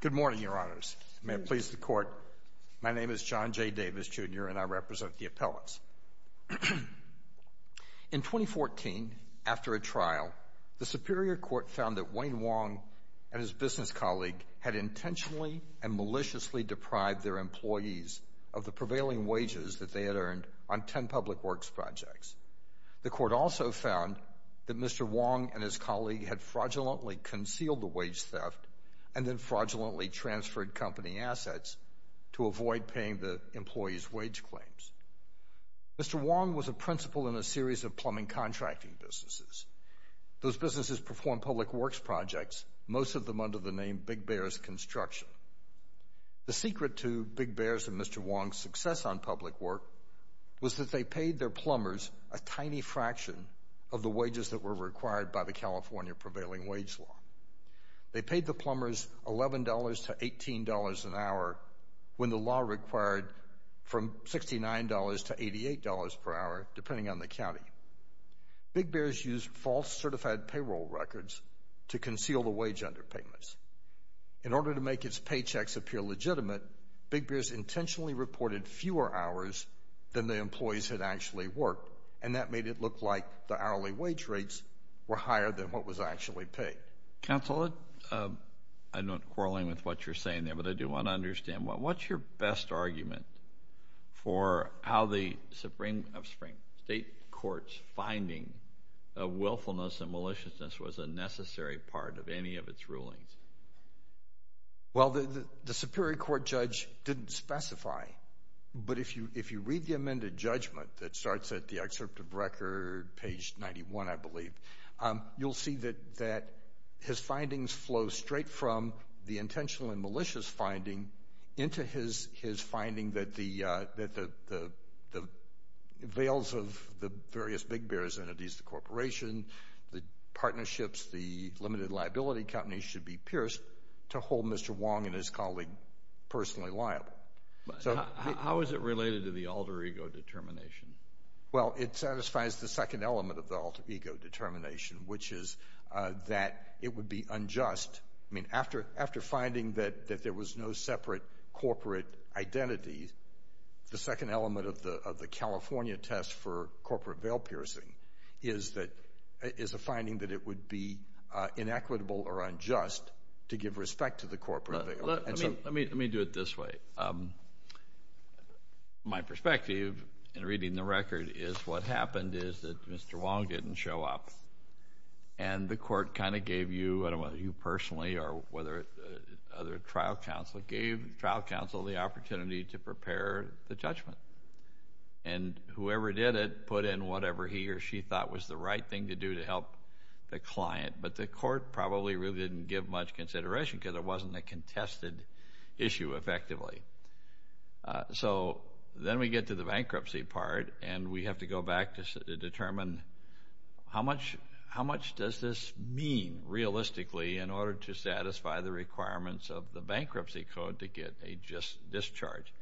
Good morning, Your Honors. May it please the Court, my name is John J. Davis, Jr., and I represent the appellants. In 2014, after a trial, the Superior Court found that Wayne Wong and his business colleague had intentionally and maliciously deprived their employees of the prevailing wages that they had earned on ten public works projects. The Court also found that Mr. Wong and his colleague had fraudulently concealed the wage theft and then fraudulently transferred company assets to avoid paying the employees' wage claims. Mr. Wong was a principal in a series of plumbing contracting businesses. Those businesses performed public works projects, most of them under the name Big Bear's Construction. The secret to Big Bear's and Mr. Wong's success on public work was that they paid their plumbers a tiny fraction of the wages that were required by the California Prevailing Wage Law. They paid the plumbers $11 to $18 an hour when the law required from $69 to $88 per hour, depending on the county. Big Bear's used false certified payroll records to conceal the wage underpayments. In order to make its paychecks appear legitimate, Big Bear's intentionally reported fewer hours than the employees had actually worked, and that made it look like the hourly wage rates were higher than what was actually paid. Counsel, I'm not quarreling with what you're saying there, but I do want to understand, what's your best argument for how the Supreme of State Courts finding of willfulness and maliciousness was a necessary part of any of its rulings? Well, the Superior Court judge didn't specify, but if you read the amended judgment that starts at the excerpt of record, page 91, I believe, you'll see that his findings flow straight from the intentional and malicious finding into his finding that the veils of the various Big Bear's entities, the corporation, the partnerships, the limited liability companies should be pierced to hold Mr. Wong and his colleague personally liable. How is it related to the alter ego determination? Well, it satisfies the second element of the alter ego determination, which is that it would be unjust. I mean, after finding that there was no separate corporate identity, the second element of the California test for corporate veil piercing is a finding that it would be inequitable or unjust to give respect to the corporate veil. Let me do it this way. My perspective in reading the record is what happened is that Mr. Wong didn't show up, and the court kind of gave you, I don't know whether you personally or whether other trial counsel, gave trial counsel the opportunity to prepare the judgment. And whoever did it put in whatever he or she thought was the right thing to do to help the client, but the court probably really didn't give much consideration because it wasn't a contested issue effectively. So then we get to the bankruptcy part, and we have to go back to determine how much does this mean realistically in order to satisfy the requirements of the bankruptcy code to get a discharge.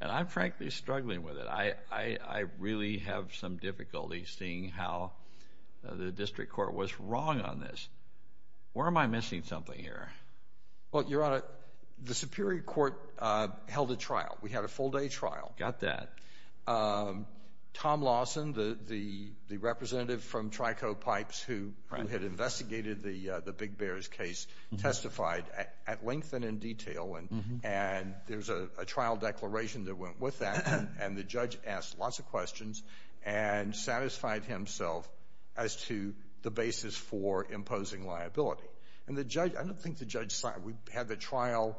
And I'm frankly struggling with it. I really have some difficulty seeing how the district court was wrong on this. Where am I missing something here? Well, Your Honor, the Superior Court held a trial. We had a full-day trial. Got that. Tom Lawson, the representative from Trico Pipes who had investigated the Big Bears case, testified at length and in detail, and there was a trial declaration that went with that, and the judge asked lots of questions and satisfied himself as to the basis for imposing liability. And I don't think the judge signed. We had the trial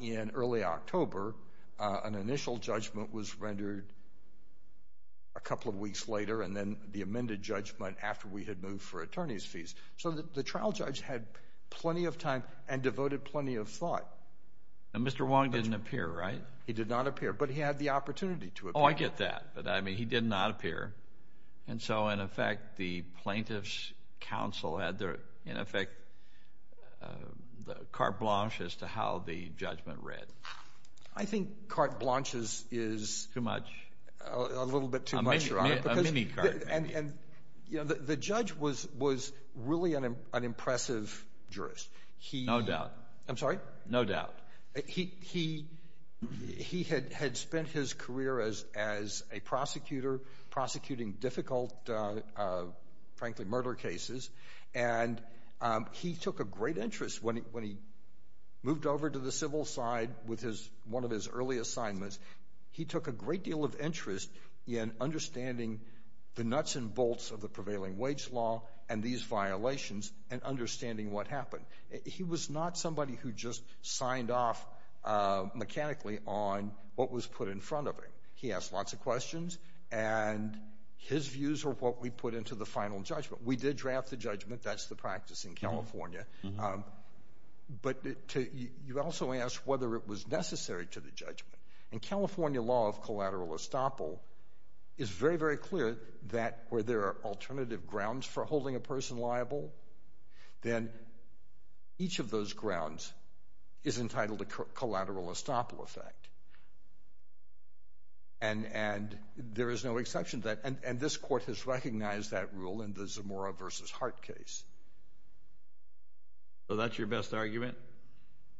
in early October. An initial judgment was rendered a couple of weeks later, and then the amended judgment after we had moved for attorney's fees. So the trial judge had plenty of time and devoted plenty of thought. And Mr. Wong didn't appear, right? He did not appear, but he had the opportunity to appear. Oh, I get that, but, I mean, he did not appear. And so, in effect, the plaintiff's counsel had their, in effect, carte blanche as to how the judgment read. I think carte blanche is a little bit too much. A mini-carte. And, you know, the judge was really an impressive jurist. No doubt. I'm sorry? No doubt. He had spent his career as a prosecutor, prosecuting difficult, frankly, murder cases, and he took a great interest when he moved over to the civil side with one of his early assignments. He took a great deal of interest in understanding the nuts and bolts of the prevailing wage law and these violations and understanding what happened. He was not somebody who just signed off mechanically on what was put in front of him. He asked lots of questions, and his views were what we put into the final judgment. We did draft the judgment. That's the practice in California. But you also asked whether it was necessary to the judgment. And California law of collateral estoppel is very, very clear that where there are alternative grounds for holding a person liable, then each of those grounds is entitled to collateral estoppel effect. And there is no exception to that. And this Court has recognized that rule in the Zamora v. Hart case. So that's your best argument?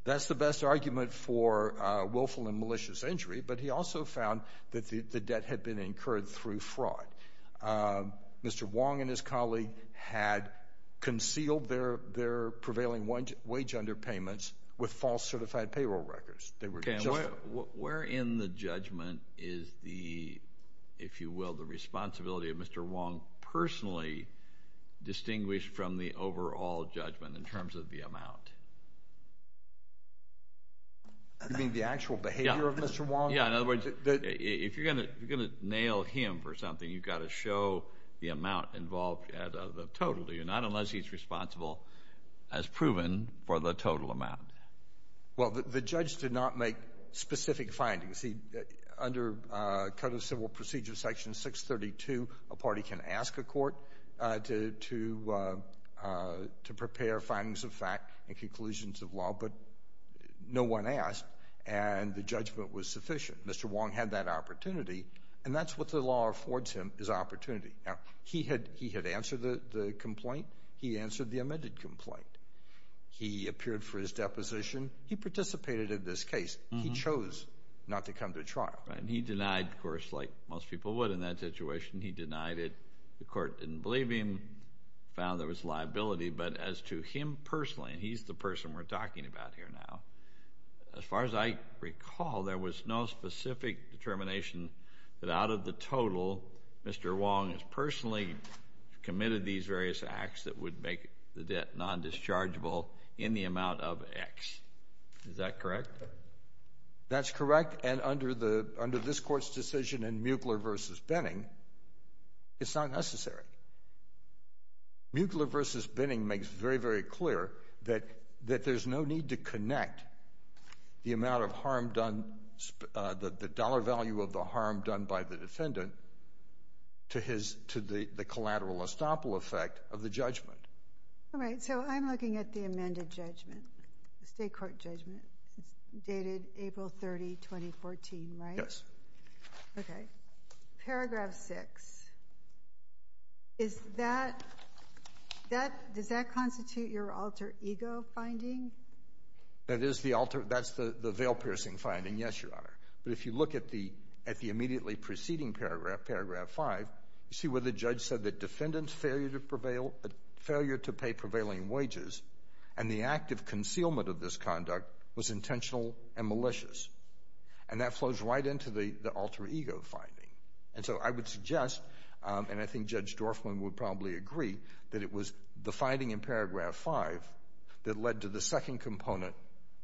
That's the best argument for willful and malicious injury, but he also found that the debt had been incurred through fraud. Mr. Wong and his colleague had concealed their prevailing wage underpayments with false certified payroll records. Where in the judgment is the, if you will, the responsibility of Mr. Wong personally distinguished from the overall judgment in terms of the amount? You mean the actual behavior of Mr. Wong? Yeah, in other words, if you're going to nail him for something, you've got to show the amount involved, the total, do you? Not unless he's responsible as proven for the total amount. Well, the judge did not make specific findings. Under Code of Civil Procedure Section 632, a party can ask a court to prepare findings of fact and conclusions of law, but no one asked, and the judgment was sufficient. Mr. Wong had that opportunity, and that's what the law affords him is opportunity. Now, he had answered the complaint. He answered the amended complaint. He appeared for his deposition. He participated in this case. He chose not to come to trial. Right, and he denied, of course, like most people would in that situation. He denied it. The court didn't believe him, found there was liability. But as to him personally, and he's the person we're talking about here now, as far as I recall, there was no specific determination that out of the total, Mr. Wong has personally committed these various acts that would make the debt non-dischargeable in the amount of X. Is that correct? That's correct, and under this court's decision in Mueckler v. Benning, it's not necessary. Mueckler v. Benning makes very, very clear that there's no need to connect the dollar value of the harm done by the defendant to the collateral estoppel effect of the judgment. All right, so I'm looking at the amended judgment, the state court judgment dated April 30, 2014, right? Yes. Okay. Paragraph 6. Does that constitute your alter ego finding? That is the alter — that's the veil-piercing finding, yes, Your Honor. But if you look at the immediately preceding paragraph, paragraph 5, you see where the judge said that defendant's failure to pay prevailing wages and the act of concealment of this conduct was intentional and malicious. And that flows right into the alter ego finding. And so I would suggest, and I think Judge Dorfman would probably agree, that it was the finding in paragraph 5 that led to the second component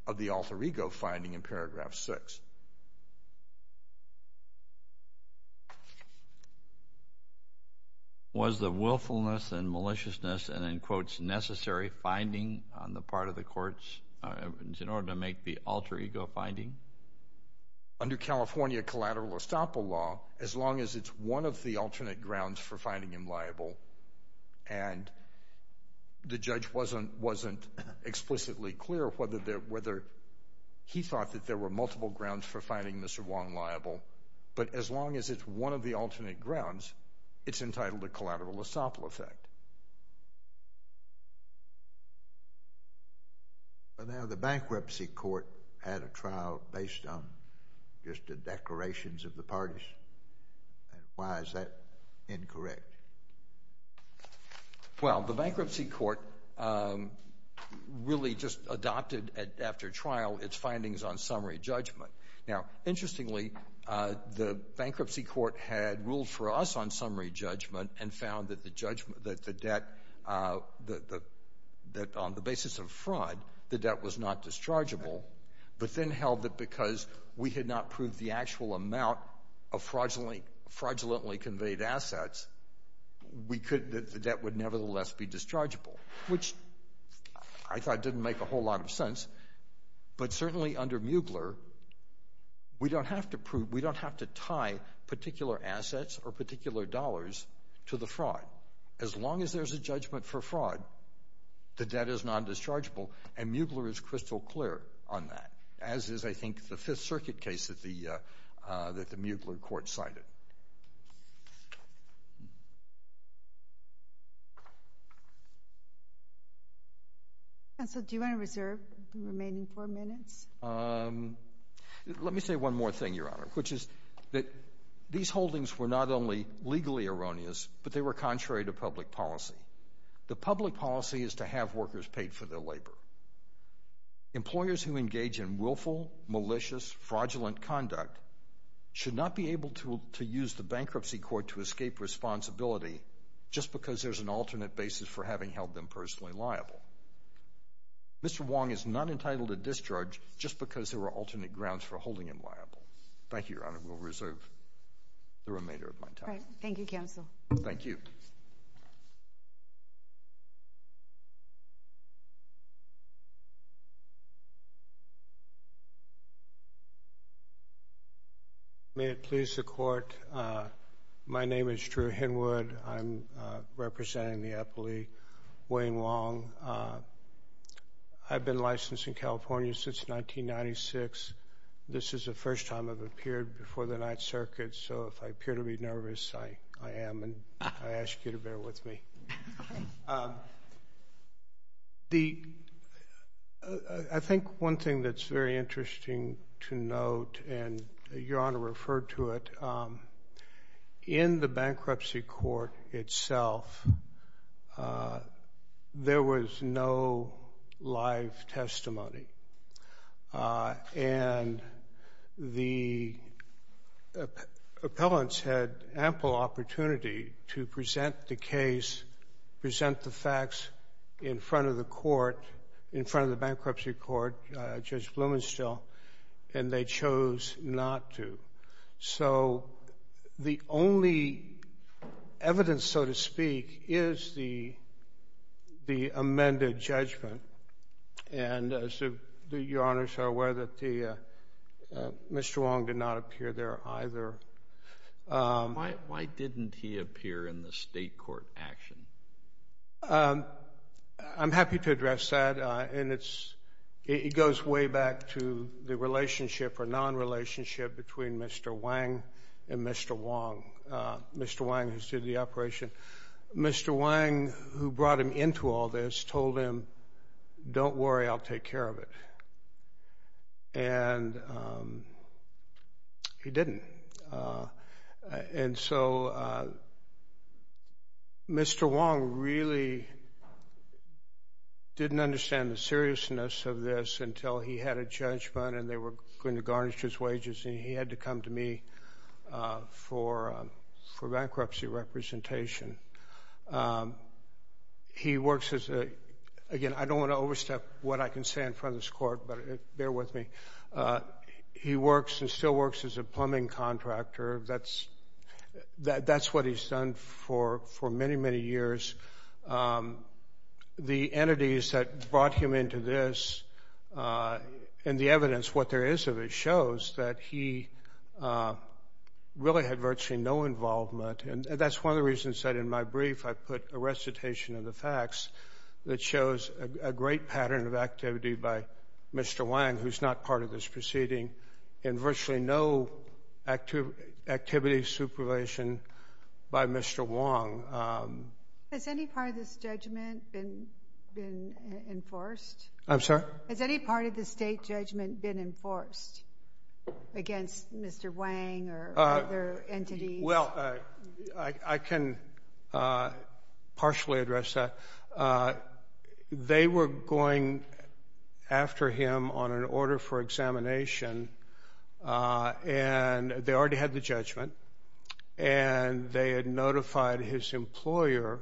of the alter ego finding in paragraph 6. Was the willfulness and maliciousness and, in quotes, necessary finding on the part of the courts in order to make the alter ego finding? Under California collateral estoppel law, as long as it's one of the alternate grounds for finding him liable and the judge wasn't explicitly clear whether he thought that there were multiple grounds for finding Mr. Wong liable, but as long as it's one of the alternate grounds, it's entitled to collateral estoppel effect. Now, the bankruptcy court had a trial based on just the declarations of the parties. Why is that incorrect? Well, the bankruptcy court really just adopted after trial its findings on summary judgment. Now, interestingly, the bankruptcy court had ruled for us on summary judgment and found that on the basis of fraud, the debt was not dischargeable, but then held that because we had not proved the actual amount of fraudulently conveyed assets, the debt would nevertheless be dischargeable, which I thought didn't make a whole lot of sense. But certainly under Mugler, we don't have to tie particular assets or particular dollars to the fraud. As long as there's a judgment for fraud, the debt is non-dischargeable, and Mugler is crystal clear on that, as is, I think, the Fifth Circuit case that the Mugler court cited. Counsel, do you want to reserve the remaining four minutes? Let me say one more thing, Your Honor, which is that these holdings were not only legally erroneous, but they were contrary to public policy. The public policy is to have workers paid for their labor. Employers who engage in willful, malicious, fraudulent conduct should not be able to use the bankruptcy court to escape responsibility just because there's an alternate basis for having held them personally liable. Mr. Wong is not entitled to discharge just because there are alternate grounds for holding him liable. Thank you, Your Honor. We'll reserve the remainder of my time. Thank you, Counsel. Thank you. May it please the Court, my name is Drew Henwood. I'm representing the appellee, Wayne Wong. I've been licensed in California since 1996. This is the first time I've appeared before the Ninth Circuit, so if I appear to be nervous, I am, and I ask you to bear with me. I think one thing that's very interesting to note, and Your Honor referred to it, in the bankruptcy court itself, there was no live testimony. And the appellants had ample opportunity to present the case, present the facts in front of the court, in front of the bankruptcy court, Judge Blumenstiel, and they chose not to. So the only evidence, so to speak, is the amended judgment, and as Your Honors are aware, Mr. Wong did not appear there either. Why didn't he appear in the state court action? I'm happy to address that, and it goes way back to the relationship or non-relationship between Mr. Wang and Mr. Wong, Mr. Wang who did the operation. Mr. Wang, who brought him into all this, told him, don't worry, I'll take care of it, and he didn't. And so Mr. Wong really didn't understand the seriousness of this until he had a judgment and they were going to garnish his wages and he had to come to me for bankruptcy representation. He works as a, again, I don't want to overstep what I can say in front of this court, but bear with me, he works and still works as a plumbing contractor. That's what he's done for many, many years. The entities that brought him into this and the evidence, what there is of it, shows that he really had virtually no involvement, and that's one of the reasons that in my brief I put a recitation of the facts that shows a great pattern of activity by Mr. Wang, who's not part of this proceeding, and virtually no activity supervision by Mr. Wong. Has any part of this judgment been enforced? I'm sorry? Has any part of the state judgment been enforced against Mr. Wang or other entities? Well, I can partially address that. They were going after him on an order for examination, and they already had the judgment, and they had notified his employer,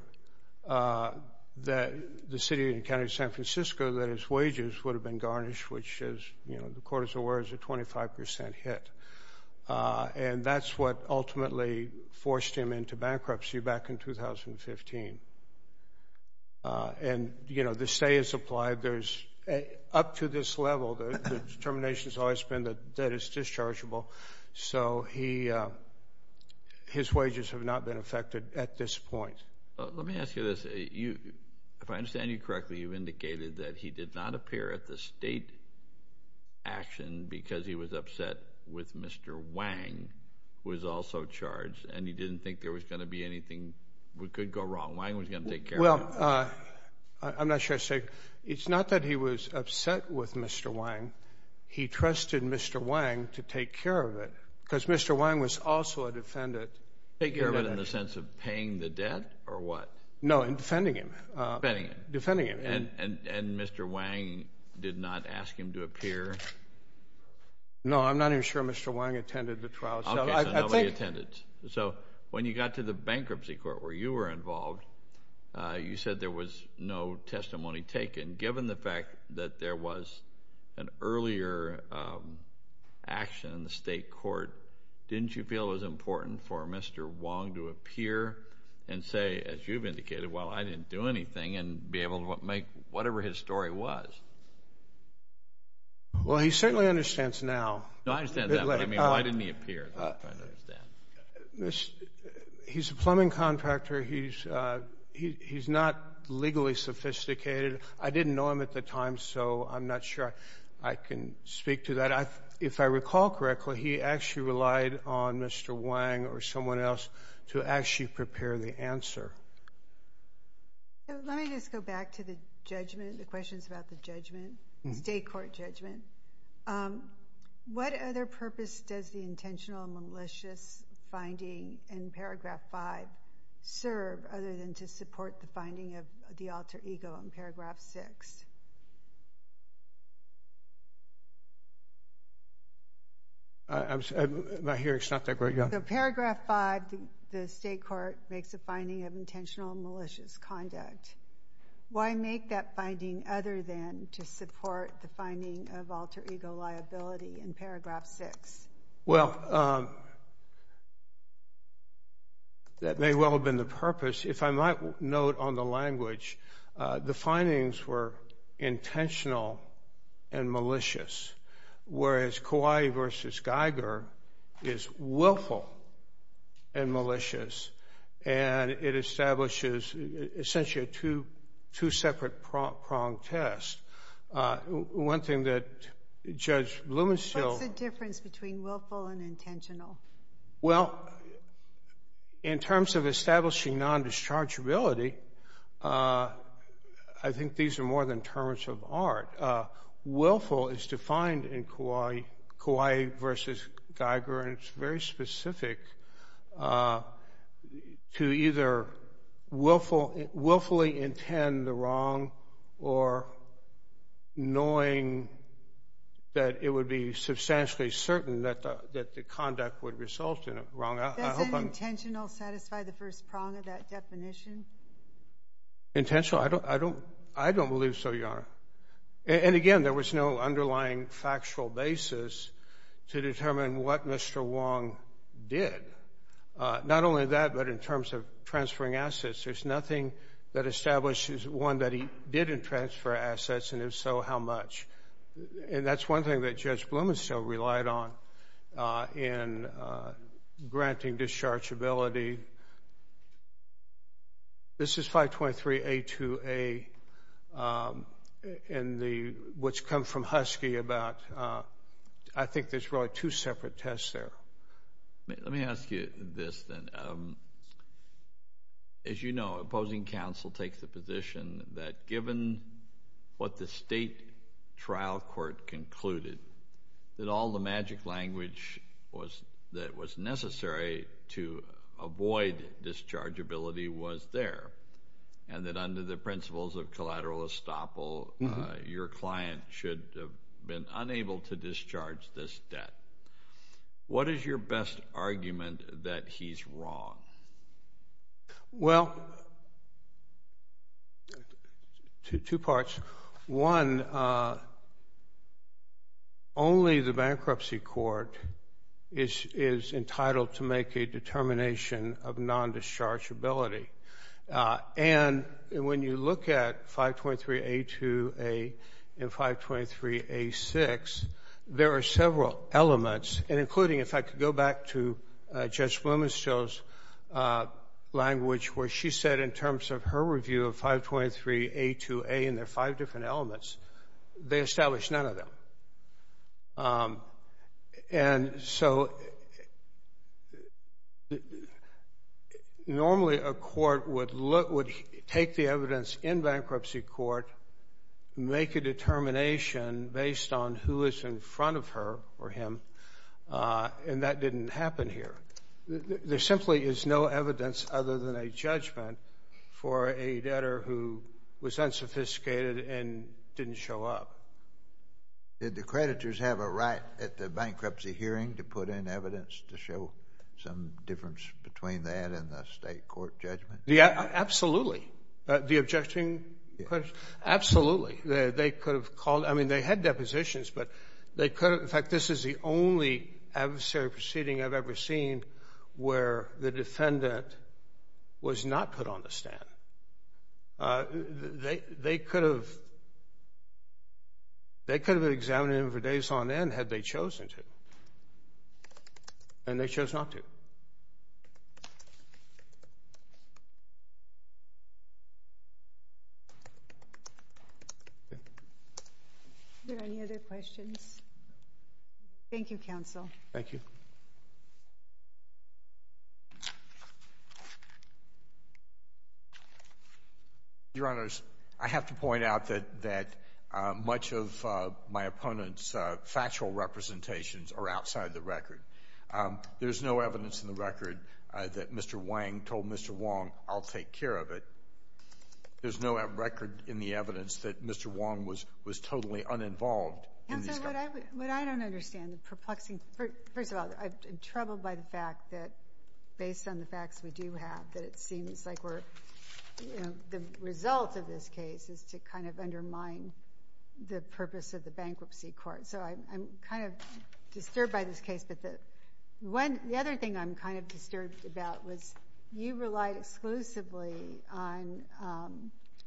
the city and county of San Francisco, that his wages would have been garnished, which, as the court is aware, is a 25% hit. And that's what ultimately forced him into bankruptcy back in 2015. And the stay is applied up to this level. The determination has always been that debt is dischargeable. So his wages have not been affected at this point. Let me ask you this. If I understand you correctly, you've indicated that he did not appear at the state action because he was upset with Mr. Wang, who was also charged, and he didn't think there was going to be anything that could go wrong. Wang was going to take care of it. Well, I'm not sure I'd say it's not that he was upset with Mr. Wang. He trusted Mr. Wang to take care of it because Mr. Wang was also a defendant. Take care of it in the sense of paying the debt or what? No, in defending him. Defending him. And Mr. Wang did not ask him to appear? No, I'm not even sure Mr. Wang attended the trial. Okay, so nobody attended. So when you got to the bankruptcy court where you were involved, you said there was no testimony taken. Given the fact that there was an earlier action in the state court, didn't you feel it was important for Mr. Wang to appear and say, as you've indicated, well, I didn't do anything and be able to make whatever his story was? Well, he certainly understands now. No, I understand that, but, I mean, why didn't he appear? That's what I'm trying to understand. He's a plumbing contractor. He's not legally sophisticated. I didn't know him at the time, so I'm not sure I can speak to that. If I recall correctly, he actually relied on Mr. Wang or someone else to actually prepare the answer. Let me just go back to the judgment, the questions about the judgment, state court judgment. What other purpose does the intentional malicious finding in Paragraph 5 serve other than to support the finding of the alter ego in Paragraph 6? I hear it's not that great. So Paragraph 5, the state court makes a finding of intentional malicious conduct. Why make that finding other than to support the finding of alter ego liability in Paragraph 6? Well, that may well have been the purpose. If I might note on the language, the findings were intentional and malicious, whereas Kawai versus Geiger is willful and malicious, and it establishes essentially a two-separate-pronged test. One thing that Judge Blumenstiel— What's the difference between willful and intentional? Well, in terms of establishing non-dischargeability, I think these are more than terms of art. Willful is defined in Kawai versus Geiger, and it's very specific to either willfully intend the wrong or knowing that it would be substantially certain that the conduct would result in a wrong. Does an intentional satisfy the first prong of that definition? Intentional? I don't believe so, Your Honor. And again, there was no underlying factual basis to determine what Mr. Wong did. Not only that, but in terms of transferring assets, there's nothing that establishes one that he didn't transfer assets, and if so, how much. And that's one thing that Judge Blumenstiel relied on in granting dischargeability. This is 523A2A, which comes from Husky about—I think there's really two separate tests there. Let me ask you this, then. As you know, opposing counsel takes the position that given what the state trial court concluded, that all the magic language that was necessary to avoid dischargeability was there, and that under the principles of collateral estoppel, your client should have been unable to discharge this debt. What is your best argument that he's wrong? Well, two parts. One, only the bankruptcy court is entitled to make a determination of non-dischargeability. And when you look at 523A2A and 523A6, there are several elements, and including, if I could go back to Judge Blumenstiel's language, where she said in terms of her review of 523A2A and their five different elements, they established none of them. And so normally a court would take the evidence in bankruptcy court, make a determination based on who is in front of her or him, and that didn't happen here. There simply is no evidence other than a judgment for a debtor who was unsophisticated and didn't show up. Did the creditors have a right at the bankruptcy hearing to put in evidence to show some difference between that and the state court judgment? Yeah, absolutely. The objection? Absolutely. They could have called. I mean, they had depositions, but they could have. In fact, this is the only adversary proceeding I've ever seen where the defendant was not put on the stand. They could have examined him for days on end had they chosen to, and they chose not to. Are there any other questions? Thank you, counsel. Thank you. Your Honors, I have to point out that much of my opponent's factual representations are outside the record. There's no evidence in the record that Mr. Wang told Mr. Wong, I'll take care of it. There's no record in the evidence that Mr. Wong was totally uninvolved in this case. Counsel, what I don't understand, the perplexing — first of all, I'm troubled by the fact that, based on the facts we do have, that it seems like we're, you know, the result of this case is to kind of undermine the purpose of the bankruptcy court. So I'm kind of disturbed by this case. But the other thing I'm kind of disturbed about was you relied exclusively on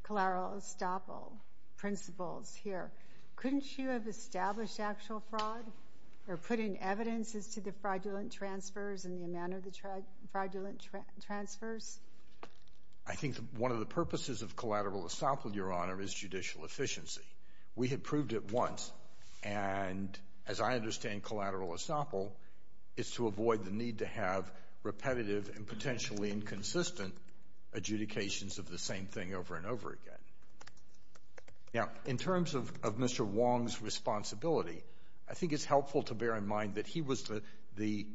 Kalaro-Ostopo principles here. Couldn't you have established actual fraud or put in evidence as to the fraudulent transfers and the amount of the fraudulent transfers? I think one of the purposes of Kalaro-Ostopo, Your Honor, is judicial efficiency. We had proved it once, and as I understand Kalaro-Ostopo, it's to avoid the need to have repetitive and potentially inconsistent adjudications of the same thing over and over again. Now, in terms of Mr. Wong's responsibility, I think it's helpful to bear in mind that he was the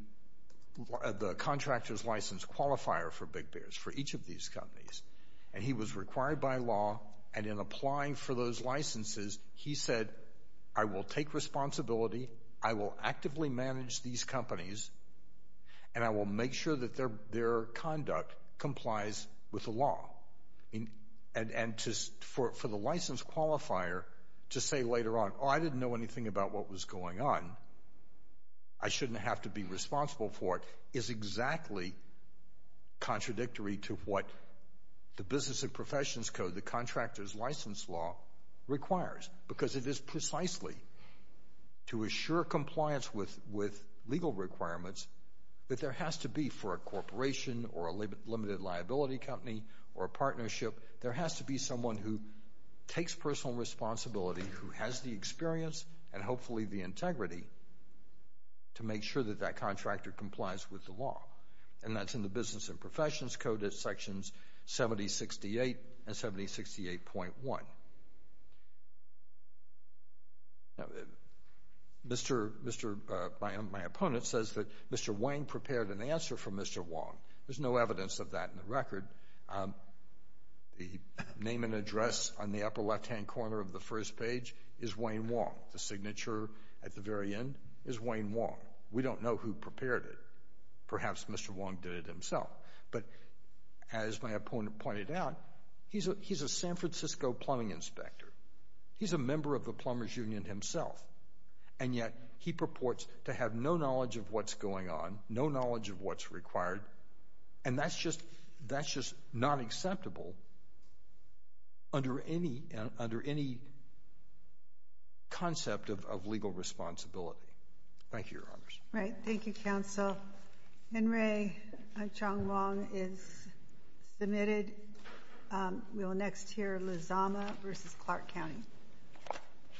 contractor's license qualifier for Big Bears, for each of these companies. And he was required by law, and in applying for those licenses, he said, I will take responsibility, I will actively manage these companies, and I will make sure that their conduct complies with the law. And for the license qualifier to say later on, oh, I didn't know anything about what was going on, I shouldn't have to be responsible for it, is exactly contradictory to what the Business and Professions Code, the contractor's license law, requires. Because it is precisely to assure compliance with legal requirements that there has to be, for a corporation or a limited liability company or a partnership, there has to be someone who takes personal responsibility, who has the experience and hopefully the integrity to make sure that that contractor complies with the law. And that's in the Business and Professions Code at sections 7068 and 7068.1. Now, my opponent says that Mr. Wang prepared an answer for Mr. Wong. There's no evidence of that in the record. The name and address on the upper left-hand corner of the first page is Wayne Wong. The signature at the very end is Wayne Wong. We don't know who prepared it. Perhaps Mr. Wong did it himself. But as my opponent pointed out, he's a San Francisco plumbing inspector. He's a member of the Plumbers Union himself, and yet he purports to have no knowledge of what's going on, no knowledge of what's required, and that's just not acceptable under any concept of legal responsibility. Thank you, Your Honors. Right. Thank you, Counsel. Henry Chang Wong is submitted. We will next hear Luzama v. Clark County.